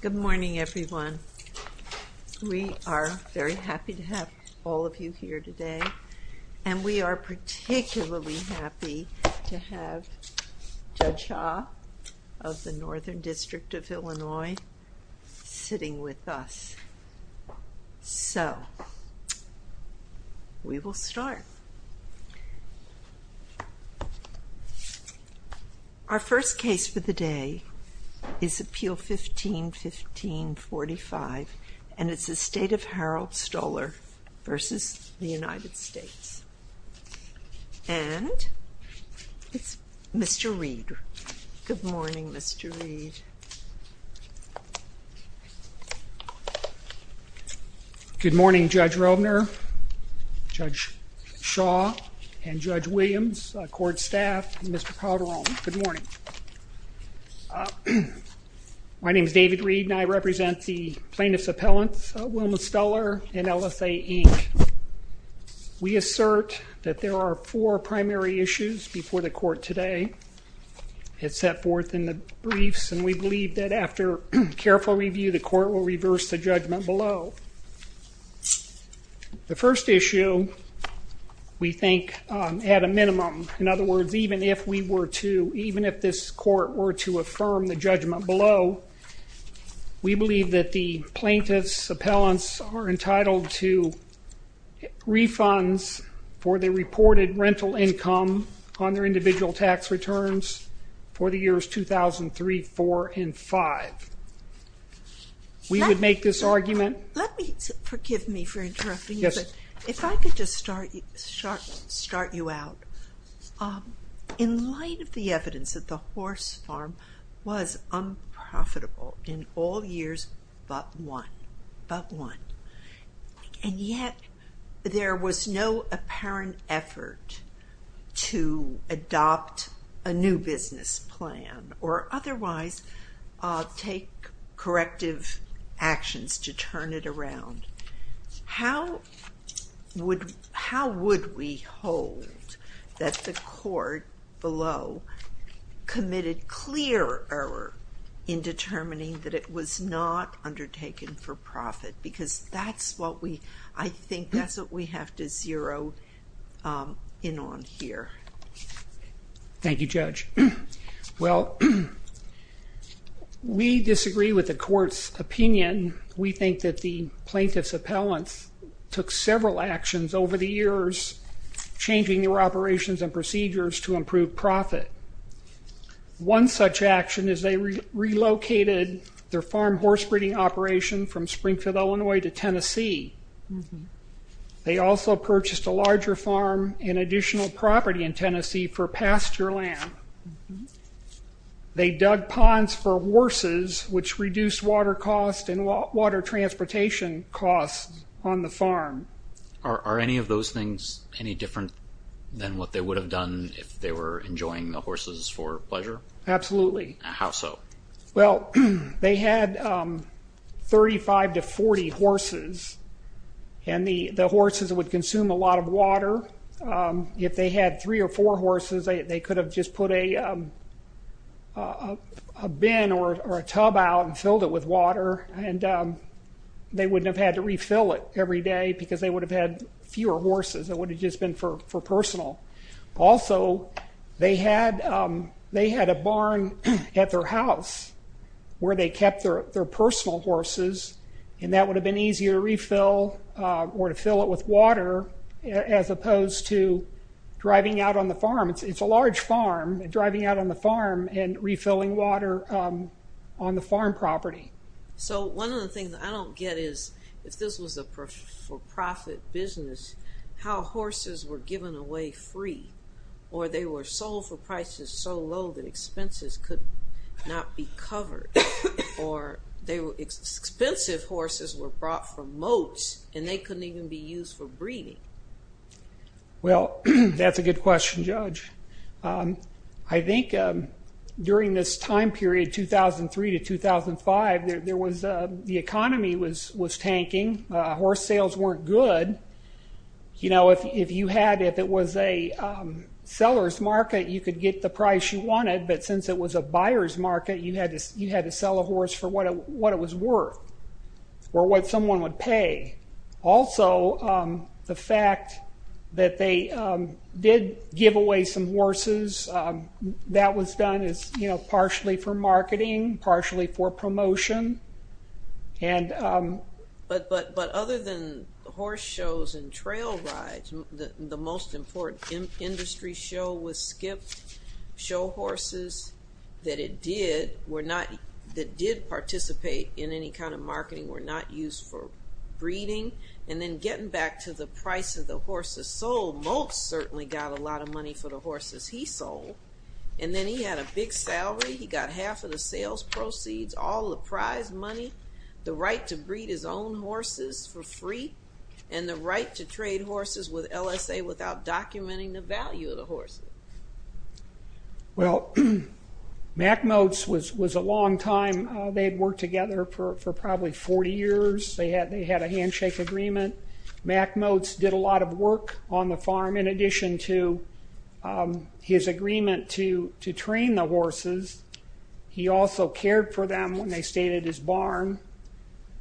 Good morning everyone. We are very happy to have all of you here today and we are particularly happy to have Judge Shaw of the Northern District of Illinois sitting with us. So, we will start. Our first case for the day is Appeal 15-1545 and it's the State of Harold Stuller v. United States. And it's Mr. Reed. Good morning, Mr. Reed. Good morning, Judge Rovner, Judge Shaw, and Judge Williams, court staff, and Mr. Calderon. Good morning. My name is David Reed and I represent the plaintiff's appellants, Wilma Stuller and LSA, Inc. We assert that there are four primary issues before the court today. It's set forth in the briefs and we believe that after careful review, the court will reverse the judgment below. The first issue, we think, had a minimum. In other words, even if this court were to affirm the judgment below, we believe that the plaintiff's appellants are entitled to refunds for their reported rental income on their individual tax returns for the years 2003, 2004, and 2005. We would make this argument. Let me, forgive me for interrupting you, but if I could just start you out. In light of the evidence that the horse farm was unprofitable in all years but one, but one, and yet there was no apparent effort to adopt a new business plan or otherwise take corrective actions to turn it around, how would we hold that the court below committed clear error in determining that it was not undertaken for profit? Because that's what we, I think that's what we have to zero in on here. Thank you, Judge. Well, we disagree with the court's opinion. We think that the plaintiff's appellants took several actions over the years changing their operations and procedures to improve profit. One such action is they relocated their farm horse breeding operation from Springfield, Illinois to Tennessee. They also purchased a larger farm and additional property in Tennessee for pasture land. They dug ponds for horses, which reduced water costs and water transportation costs on the farm. Are any of those things any different than what they would have done if they were enjoying the horses for pleasure? Absolutely. How so? Well, they had 35 to 40 horses, and the horses would consume a lot of water. If they had three or four horses, they could have just put a bin or a tub out and filled it with water, and they wouldn't have had to refill it every day because they would have had fewer horses. It would have just been for personal. Also, they had a barn at their house where they kept their personal horses, and that would have been easier to refill or to fill it with water as opposed to driving out on the farm. It's a large farm, driving out on the farm and refilling water on the farm property. One of the things I don't get is if this was a for-profit business, how horses were given away free, or they were sold for prices so low that expenses could not be covered. Expensive horses were brought from moats, and they couldn't even be used for breeding. Well, that's a good question, Judge. I think during this time period, 2003 to 2005, the economy was tanking. Horse sales weren't good. If it was a seller's market, you could get the price you wanted, but since it was a buyer's market, you had to sell a horse for what it was worth or what someone would pay. Also, the fact that they did give away some horses, that was done partially for marketing, partially for promotion. But other than horse shows and trail rides, the most important industry show was Skip. Show horses that did participate in any kind of marketing were not used for breeding. And then getting back to the price of the horses sold, Moats certainly got a lot of money for the horses he sold. And then he had a big salary. He got half of the sales proceeds, all the prize money, the right to breed his own horses for free, and the right to trade horses with LSA without documenting the value of the horses. Well, Mack Moats was a long time. They had worked together for probably 40 years. They had a handshake agreement. Mack Moats did a lot of work on the farm in addition to his agreement to train the horses. He also cared for them when they stayed at his barn.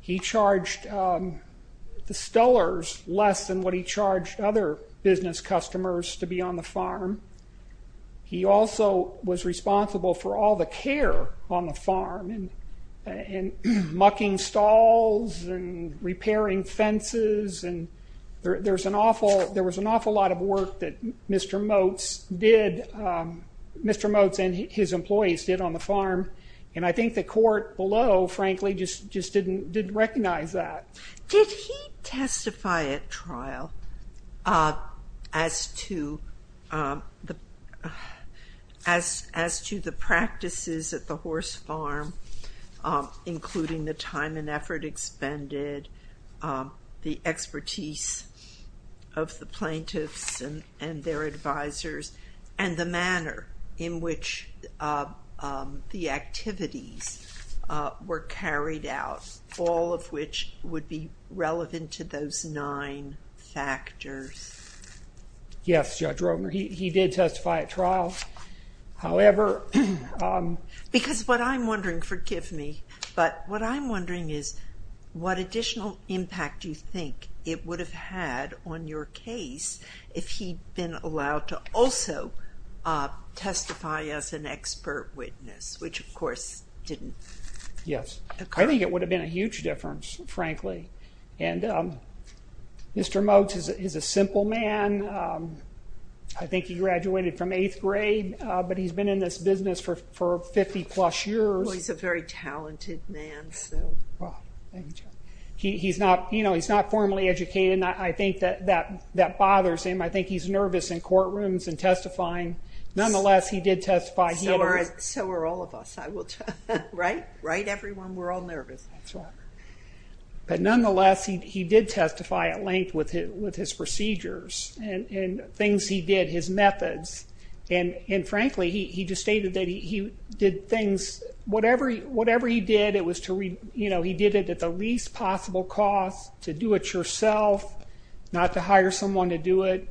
He charged the stellars less than what he charged other business customers to be on the farm. He also was responsible for all the care on the farm and mucking stalls and repairing fences. And there was an awful lot of work that Mr. Moats did, Mr. Moats and his employees did on the farm. And I think the court below, frankly, just didn't recognize that. Did he testify at trial as to the practices at the horse farm, including the time and effort expended, the expertise of the plaintiffs and their advisors, and the manner in which the activities were carried out, all of which would be relevant to those nine factors? Yes, Judge Rogner, he did testify at trial. However... Because what I'm wondering, forgive me, but what I'm wondering is what additional impact do you think it would have had on your case if he'd been allowed to also testify as an expert witness, which of course didn't occur. Yes. I think it would have been a huge difference, frankly. And Mr. Moats is a simple man. I think he graduated from eighth grade, but he's been in this business for 50-plus years. Well, he's a very talented man, so... He's not formally educated, and I think that bothers him. I think he's nervous in courtrooms and testifying. Nonetheless, he did testify. So are all of us. Right? Right, everyone? We're all nervous. That's right. But nonetheless, he did testify at length with his procedures and things he did, his methods. And frankly, he just stated that he did things, whatever he did, he did it at the least possible cost, to do it yourself, not to hire someone to do it,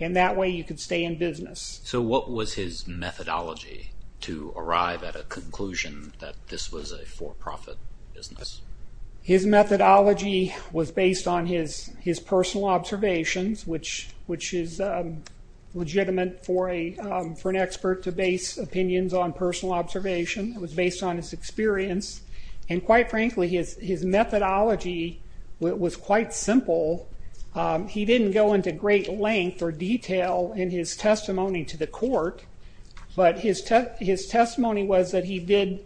and that way you could stay in business. So what was his methodology to arrive at a conclusion that this was a for-profit business? His methodology was based on his personal observations, which is legitimate for an expert to base opinions on personal observation. It was based on his experience, and quite frankly, his methodology was quite simple. He didn't go into great length or detail in his testimony to the court, but his testimony was that he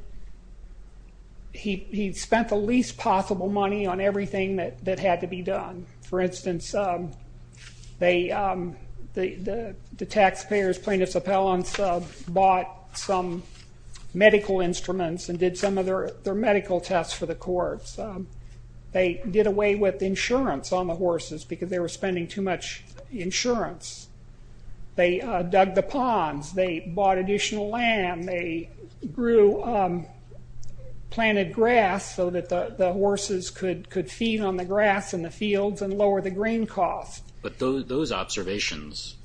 spent the least possible money on everything that had to be done. For instance, the taxpayers, plaintiffs' appellants, bought some medical instruments and did some of their medical tests for the courts. They did away with insurance on the horses because they were spending too much insurance. They dug the ponds. They bought additional land. They planted grass so that the horses could feed on the grass in the fields and lower the grain cost. But those observations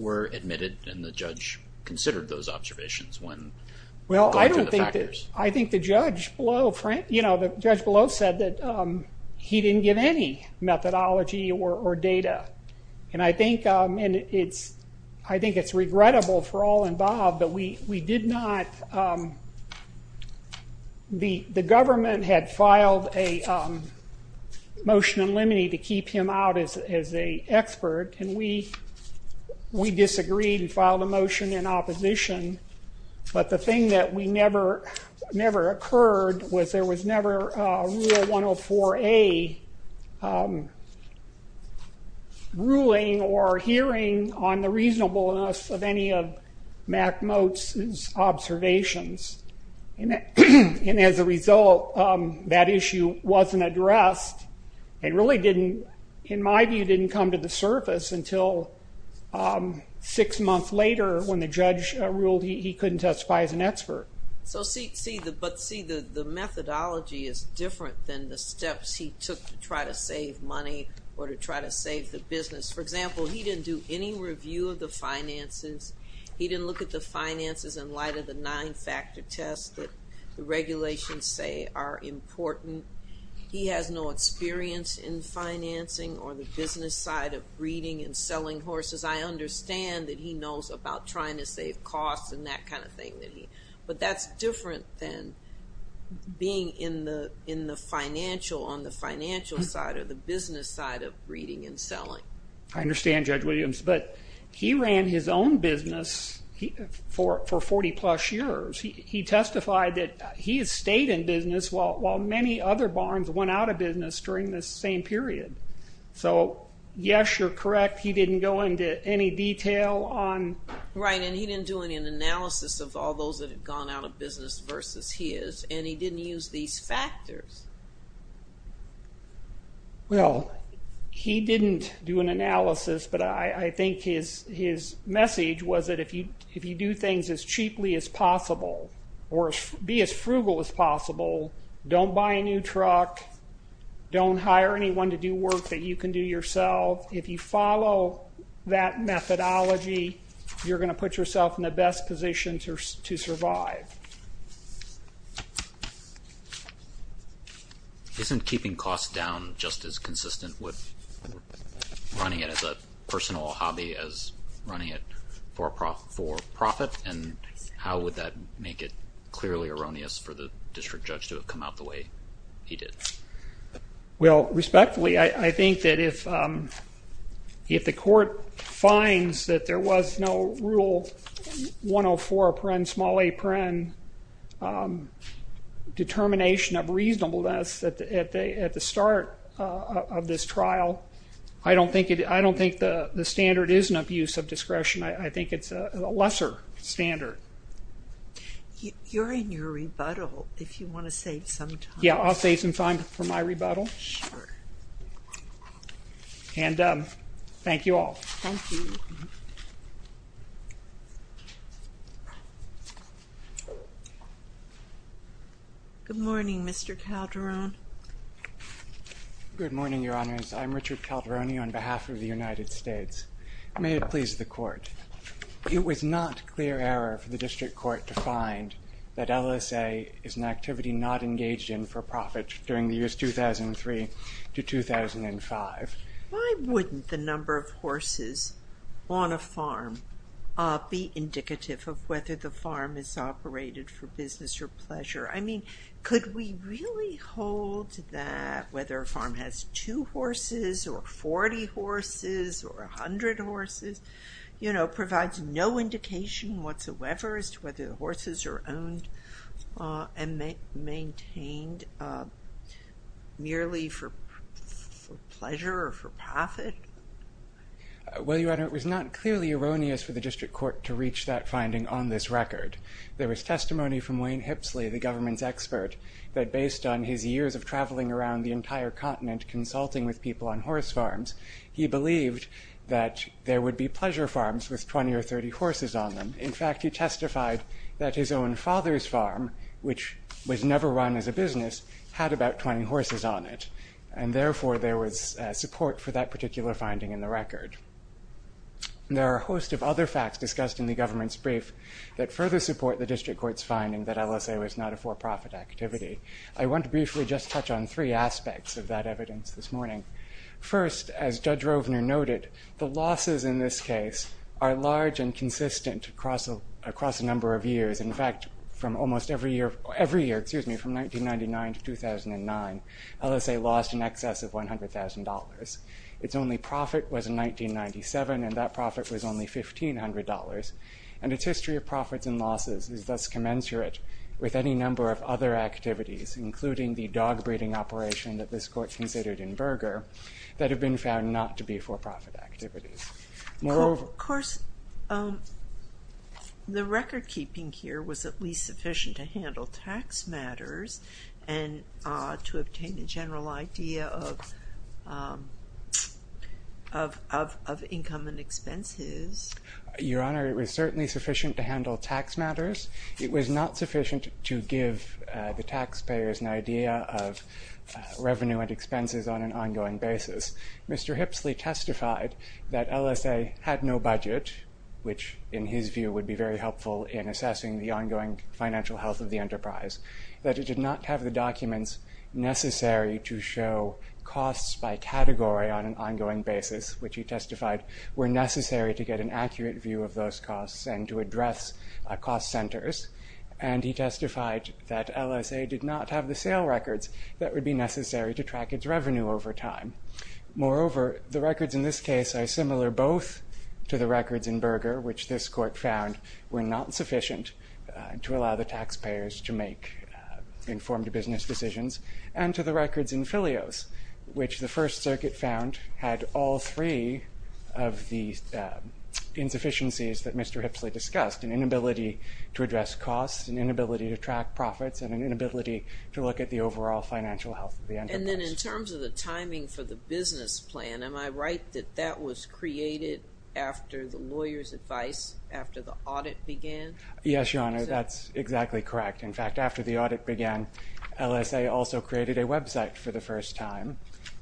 were admitted, and the judge considered those observations when going through the factors? I think the judge below said that he didn't give any methodology or data, and I think it's regrettable for all involved, but the government had filed a motion in limine to keep him out as an expert, and we disagreed and filed a motion in opposition, but the thing that never occurred was there was never a Rule 104A ruling or hearing on the reasonableness of any of Mack Motz's observations. And as a result, that issue wasn't addressed and really, in my view, didn't come to the surface until six months later when the judge ruled he couldn't testify as an expert. But see, the methodology is different than the steps he took to try to save money or to try to save the business. For example, he didn't do any review of the finances. He didn't look at the finances in light of the nine-factor tests that the regulations say are important. He has no experience in financing or the business side of breeding and selling horses. I understand that he knows about trying to save costs and that kind of thing, but that's different than being on the financial side or the business side of breeding and selling. I understand, Judge Williams, but he ran his own business for 40-plus years. He testified that he has stayed in business while many other barns went out of business during this same period. So, yes, you're correct, he didn't go into any detail on... Right, and he didn't do any analysis of all those that had gone out of business versus his, and he didn't use these factors. Well, he didn't do an analysis, but I think his message was that if you do things as cheaply as possible or be as frugal as possible, don't buy a new truck, don't hire anyone to do work that you can do yourself. If you follow that methodology, you're going to put yourself in the best position to survive. Isn't keeping costs down just as consistent with running it as a personal hobby as running it for profit, and how would that make it clearly erroneous for the district judge to have come out the way he did? Well, respectfully, I think that if the court finds that there was no Rule 104.8 determination of reasonableness at the start of this trial, I don't think the standard is an abuse of discretion. I think it's a lesser standard. You're in your rebuttal if you want to save some time. Yeah, I'll save some time for my rebuttal. Sure. And thank you all. Thank you. Good morning, Mr. Calderon. Good morning, Your Honors. I'm Richard Calderoni on behalf of the United States. May it please the court. It was not clear error for the district court to find that LSA is an activity not engaged in for profit during the years 2003 to 2005. Why wouldn't the number of horses on a farm be indicative of whether the farm is operated for business or pleasure? I mean, could we really hold that whether a farm has two horses or 40 horses or 100 horses, you know, provides no indication whatsoever as to whether the horses are owned and maintained merely for pleasure or for profit? Well, Your Honor, it was not clearly erroneous for the district court to reach that finding on this record. There was testimony from Wayne Hipsley, the government's expert, that based on his years of traveling around the entire continent consulting with people on horse farms, he believed that there would be pleasure farms with 20 or 30 horses on them. In fact, he testified that his own father's farm, which was never run as a business, had about 20 horses on it. And therefore, there was support for that particular finding in the record. There are a host of other facts discussed in the government's brief that further support the district court's finding that LSA was not a for profit activity. I want to briefly just touch on three aspects of that evidence this morning. First, as Judge Rovner noted, the losses in this case are large and consistent across a number of years. In fact, every year from 1999 to 2009, LSA lost in excess of $100,000. Its only profit was in 1997, and that profit was only $1,500. And its history of profits and losses is thus commensurate with any number of other activities, including the dog breeding operation that this court considered in Berger, that have been found not to be for profit activities. Of course, the record keeping here was at least sufficient to handle tax matters and to obtain a general idea of income and expenses. Your Honor, it was certainly sufficient to handle tax matters. It was not sufficient to give the taxpayers an idea of revenue and expenses on an ongoing basis. Mr. Hipsley testified that LSA had no budget, which in his view would be very helpful in assessing the ongoing financial health of the enterprise. That it did not have the documents necessary to show costs by category on an ongoing basis, which he testified were necessary to get an accurate view of those costs and to address cost centers. And he testified that LSA did not have the sale records that would be necessary to track its revenue over time. Moreover, the records in this case are similar both to the records in Berger, which this court found were not sufficient to allow the taxpayers to make informed business decisions, and to the records in Filios, which the First Circuit found had all three of the insufficiencies that Mr. Hipsley discussed. An inability to address costs, an inability to track profits, and an inability to look at the overall financial health of the enterprise. And then in terms of the timing for the business plan, am I right that that was created after the lawyer's advice, after the audit began? Yes, Your Honor, that's exactly correct. In fact, after the audit began, LSA also created a website for the first time.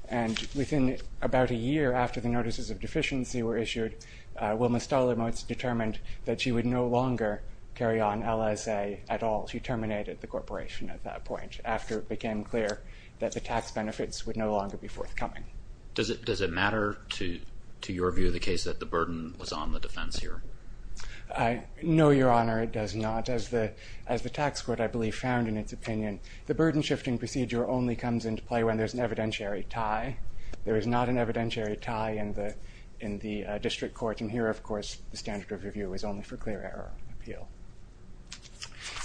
And within about a year after the notices of deficiency were issued, Wilma Stolermotz determined that she would no longer carry on LSA at all. She terminated the corporation at that point, after it became clear that the tax benefits would no longer be forthcoming. Does it matter to your view the case that the burden was on the defense here? No, Your Honor, it does not. As the tax court, I believe, found in its opinion, the burden-shifting procedure only comes into play when there's an evidentiary tie. There is not an evidentiary tie in the district courts. And here, of course, the standard of review is only for clear-error appeal.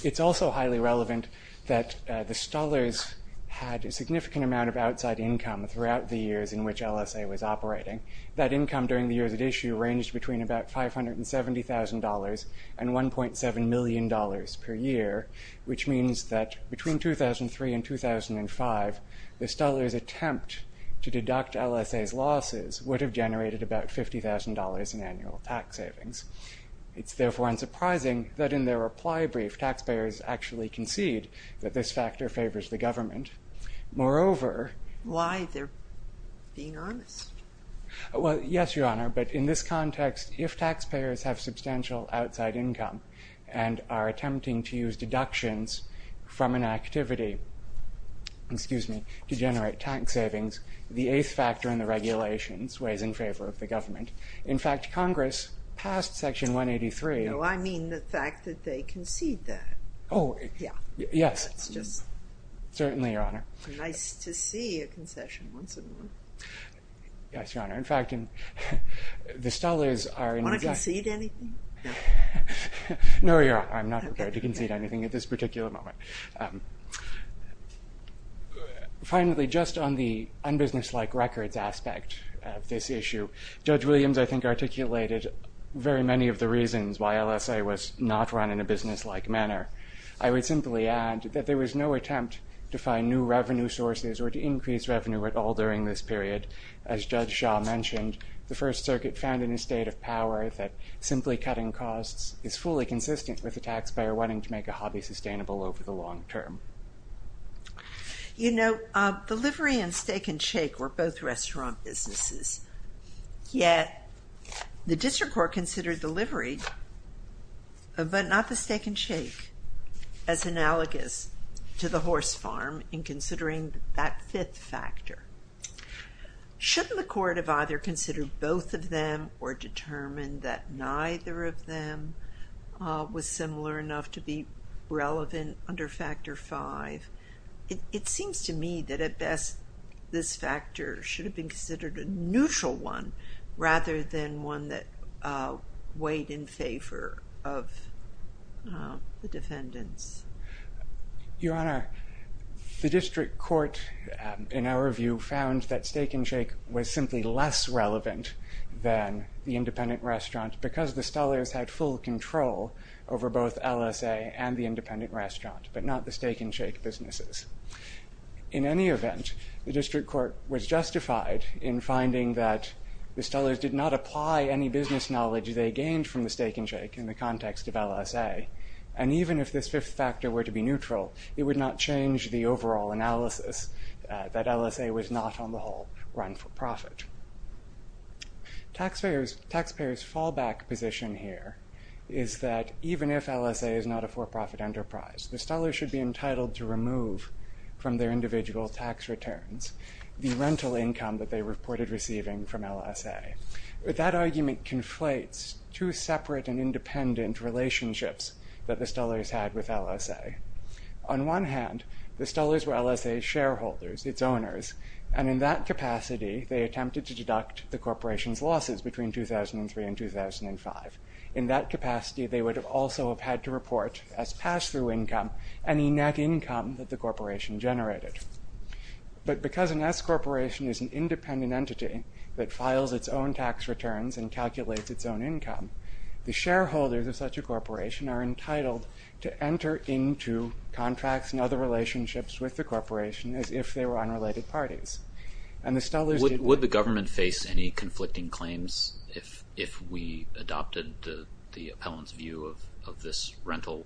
It's also highly relevant that the Stollers had a significant amount of outside income throughout the years in which LSA was operating. That income during the years at issue ranged between about $570,000 and $1.7 million per year, which means that between 2003 and 2005, the Stollers' attempt to deduct LSA's losses would have generated about $50,000 in annual tax savings. It's therefore unsurprising that in their reply brief, taxpayers actually concede that this factor favors the government. Moreover... Why? They're being honest. Well, yes, Your Honor, but in this context, if taxpayers have substantial outside income and are attempting to use deductions from an activity to generate tax savings, the eighth factor in the regulations weighs in favor of the government. In fact, Congress passed Section 183... No, I mean the fact that they concede that. Oh, yes. Certainly, Your Honor. Nice to see a concession once in a while. Yes, Your Honor. In fact, the Stollers are... Want to concede anything? No, Your Honor, I'm not prepared to concede anything at this particular moment. Finally, just on the unbusiness-like records aspect of this issue, Judge Williams, I think, articulated very many of the reasons why LSA was not run in a business-like manner. I would simply add that there was no attempt to find new revenue sources or to increase revenue at all during this period. As Judge Shah mentioned, the First Circuit found in a state of power that simply cutting costs is fully consistent with the taxpayer wanting to make a hobby sustainable over the long term. You know, delivery and steak and shake were both restaurant businesses, yet the District Court considered delivery, but not the steak and shake, as analogous to the horse farm in considering that fifth factor. Shouldn't the Court have either considered both of them or determined that neither of them was similar enough to be relevant under Factor V? It seems to me that at best, this factor should have been considered a neutral one rather than one that weighed in favor of the defendants. Your Honor, the District Court, in our review, found that steak and shake was simply less relevant than the independent restaurant because the Stollers had full control over both LSA and the independent restaurant, but not the steak and shake businesses. In any event, the District Court was justified in finding that the Stollers did not apply any business knowledge they gained from the steak and shake in the context of LSA, and even if this fifth factor were to be neutral, it would not change the overall analysis that LSA was not, on the whole, run for profit. Taxpayers' fallback position here is that even if LSA is not a for-profit enterprise, the Stollers should be entitled to remove from their individual tax returns the rental income that they reported receiving from LSA. That argument conflates two separate and independent relationships that the Stollers had with LSA. On one hand, the Stollers were LSA's shareholders, its owners, and in that capacity, they attempted to deduct the corporation's losses between 2003 and 2005. In that capacity, they would also have had to report as pass-through income any net income that the corporation generated. But because an S-corporation is an independent entity that files its own tax returns and calculates its own income, the shareholders of such a corporation are entitled to enter into contracts and other relationships with the corporation as if they were unrelated parties. Would the government face any conflicting claims if we adopted the appellant's view of these rental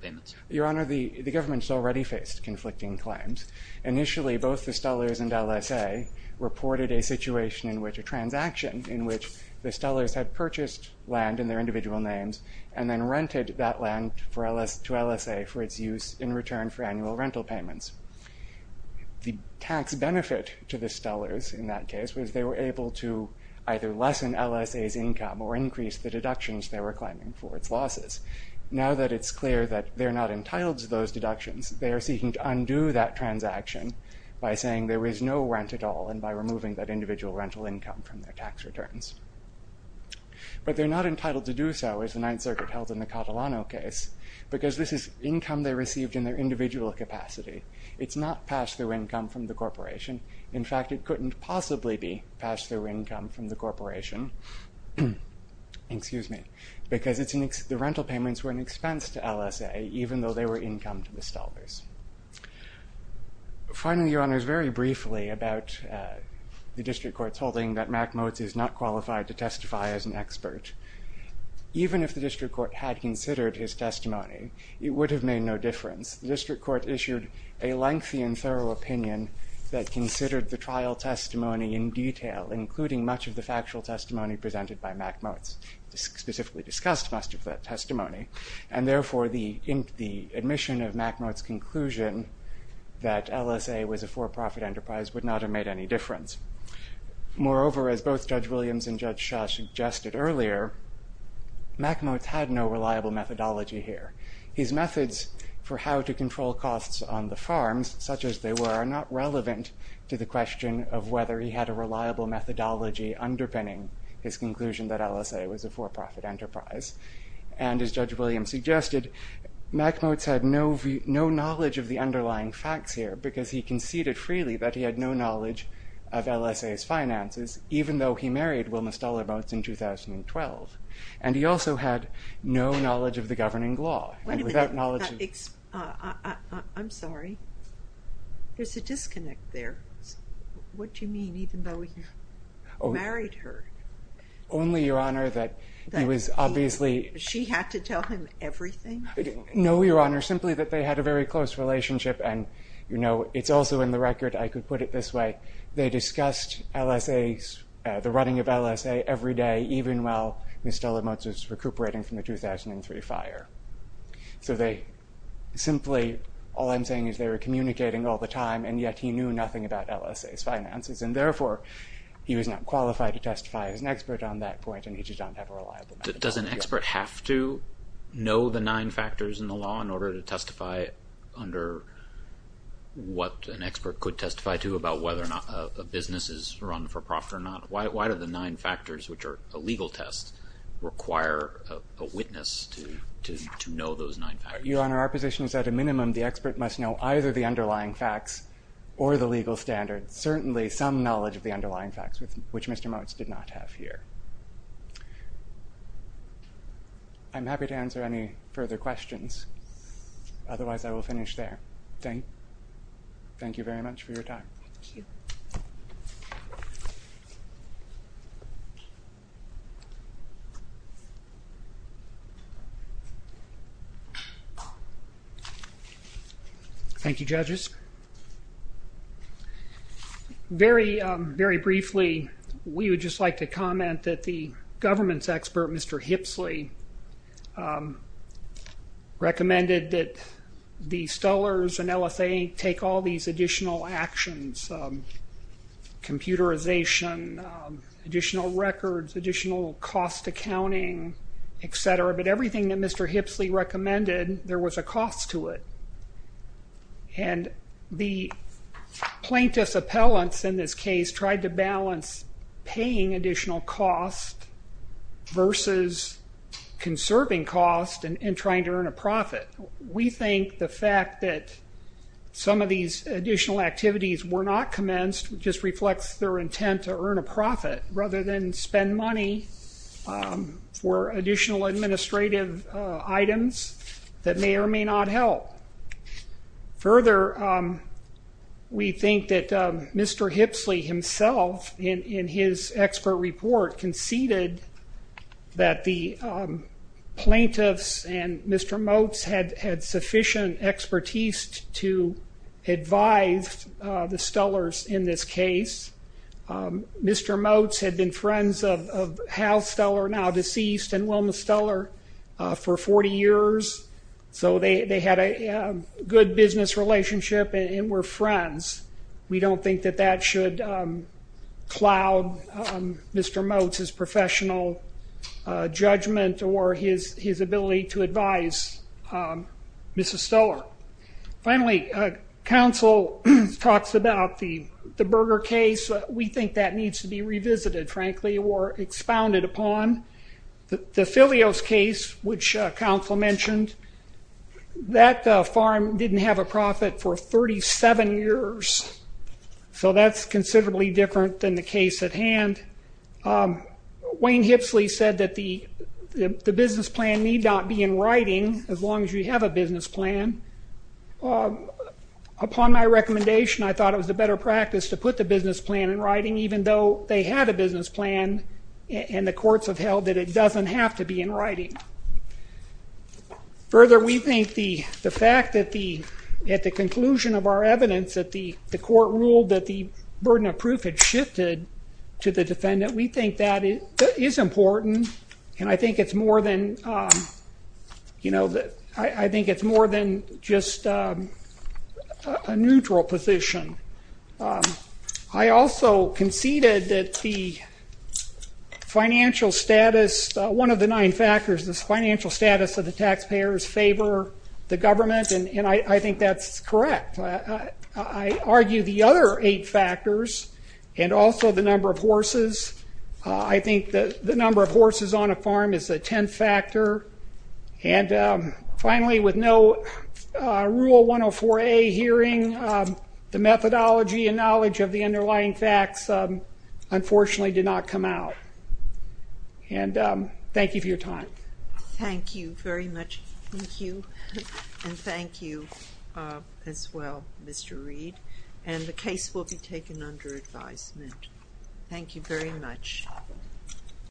payments? Your Honor, the government has already faced conflicting claims. Initially, both the Stollers and LSA reported a situation in which a transaction in which the Stollers had purchased land in their individual names and then rented that land to LSA for its use in return for annual rental payments. The tax benefit to the Stollers in that case was they were able to either lessen LSA's income or increase the deductions they were claiming for its losses. Now that it's clear that they're not entitled to those deductions, they are seeking to undo that transaction by saying there is no rent at all and by removing that individual rental income from their tax returns. But they're not entitled to do so, as the Ninth Circuit held in the Catalano case, because this is income they received in their individual capacity. It's not pass-through income from the corporation. In fact, it couldn't possibly be pass-through income from the corporation because the rental payments were an expense to LSA, even though they were income to the Stollers. Finally, Your Honor, very briefly about the District Court's holding that Mack Motz is not qualified to testify as an expert. Even if the District Court had considered his testimony, it would have made no difference. The District Court issued a lengthy and thorough opinion that considered the trial testimony in detail, including much of the factual testimony presented by Mack Motz, specifically discussed much of that testimony, and therefore the admission of Mack Motz's conclusion that LSA was a for-profit enterprise would not have made any difference. Moreover, as both Judge Williams and Judge Shah suggested earlier, Mack Motz had no reliable methodology here. His methods for how to control costs on the farms, such as they were, are not relevant to the question of whether he had a reliable methodology underpinning his conclusion that LSA was a for-profit enterprise. And as Judge Williams suggested, Mack Motz had no knowledge of the underlying facts here because he conceded freely that he had no knowledge of LSA's finances, even though he married Wilma Stoller Motz in 2012. And he also had no knowledge of the governing law. Wait a minute. I'm sorry. There's a disconnect there. What do you mean, even though you married her? Only, Your Honor, that he was obviously... She had to tell him everything? No, Your Honor, simply that they had a very close relationship and, you know, it's also in the record, I could put it this way, they discussed the running of LSA every day, even while Ms. Stoller Motz was recuperating from the 2003 fire. So they simply, all I'm saying is they were communicating all the time, and yet he knew nothing about LSA's finances, and therefore he was not qualified to testify as an expert on that point, and he did not have a reliable methodology. Does an expert have to know the nine factors in the law in order to testify under what an expert could testify to about whether or not a business is run for profit or not? Why do the nine factors, which are a legal test, require a witness to know those nine factors? Your Honor, our position is at a minimum the expert must know either the underlying facts or the legal standards, certainly some knowledge of the underlying facts, which Mr. Motz did not have here. I'm happy to answer any further questions, otherwise I will finish there. Thank you very much for your time. Thank you. Thank you, judges. Very briefly, we would just like to comment that the government's expert, Mr. Hipsley, recommended that the Stullers and LSA take all these additional actions, computerization, additional records, additional cost accounting, et cetera, but everything that Mr. Hipsley recommended, there was a cost to it. And the plaintiff's appellants in this case tried to balance paying additional cost versus conserving cost and trying to earn a profit. We think the fact that some of these additional activities were not commenced just reflects their intent to earn a profit rather than spend money for additional administrative items that may or may not help. Further, we think that Mr. Hipsley himself, in his expert report, conceded that the plaintiffs and Mr. Motz had sufficient expertise to advise the Stullers in this case. Mr. Motz had been friends of Hal Stuller, now deceased, and Wilma Stuller for 40 years, so they had a good business relationship and were friends. We don't think that that should cloud Mr. Motz's professional judgment or his ability to advise Mrs. Stuller. Finally, counsel talks about the Berger case. We think that needs to be revisited, frankly, or expounded upon. The Filios case, which counsel mentioned, that farm didn't have a profit for 37 years, so that's considerably different than the case at hand. Wayne Hipsley said that the business plan need not be in writing as long as you have a business plan. Upon my recommendation, I thought it was a better practice to put the business plan in writing, even though they had a business plan and the courts have held that it doesn't have to be in writing. Further, we think the fact that at the conclusion of our evidence that the court ruled that the burden of proof had shifted to the defendant, we think that is important, and I think it's more than just a neutral position. I also conceded that the financial status, one of the nine factors, the financial status of the taxpayers favor the government, and I think that's correct. I argue the other eight factors and also the number of horses. I think the number of horses on a farm is a tenth factor. Finally, with no Rule 104A hearing, the methodology and knowledge of the underlying facts, unfortunately, did not come out. Thank you for your time. Thank you very much. Thank you, and thank you as well, Mr. Reed. The case will be taken under advisement. Thank you very much.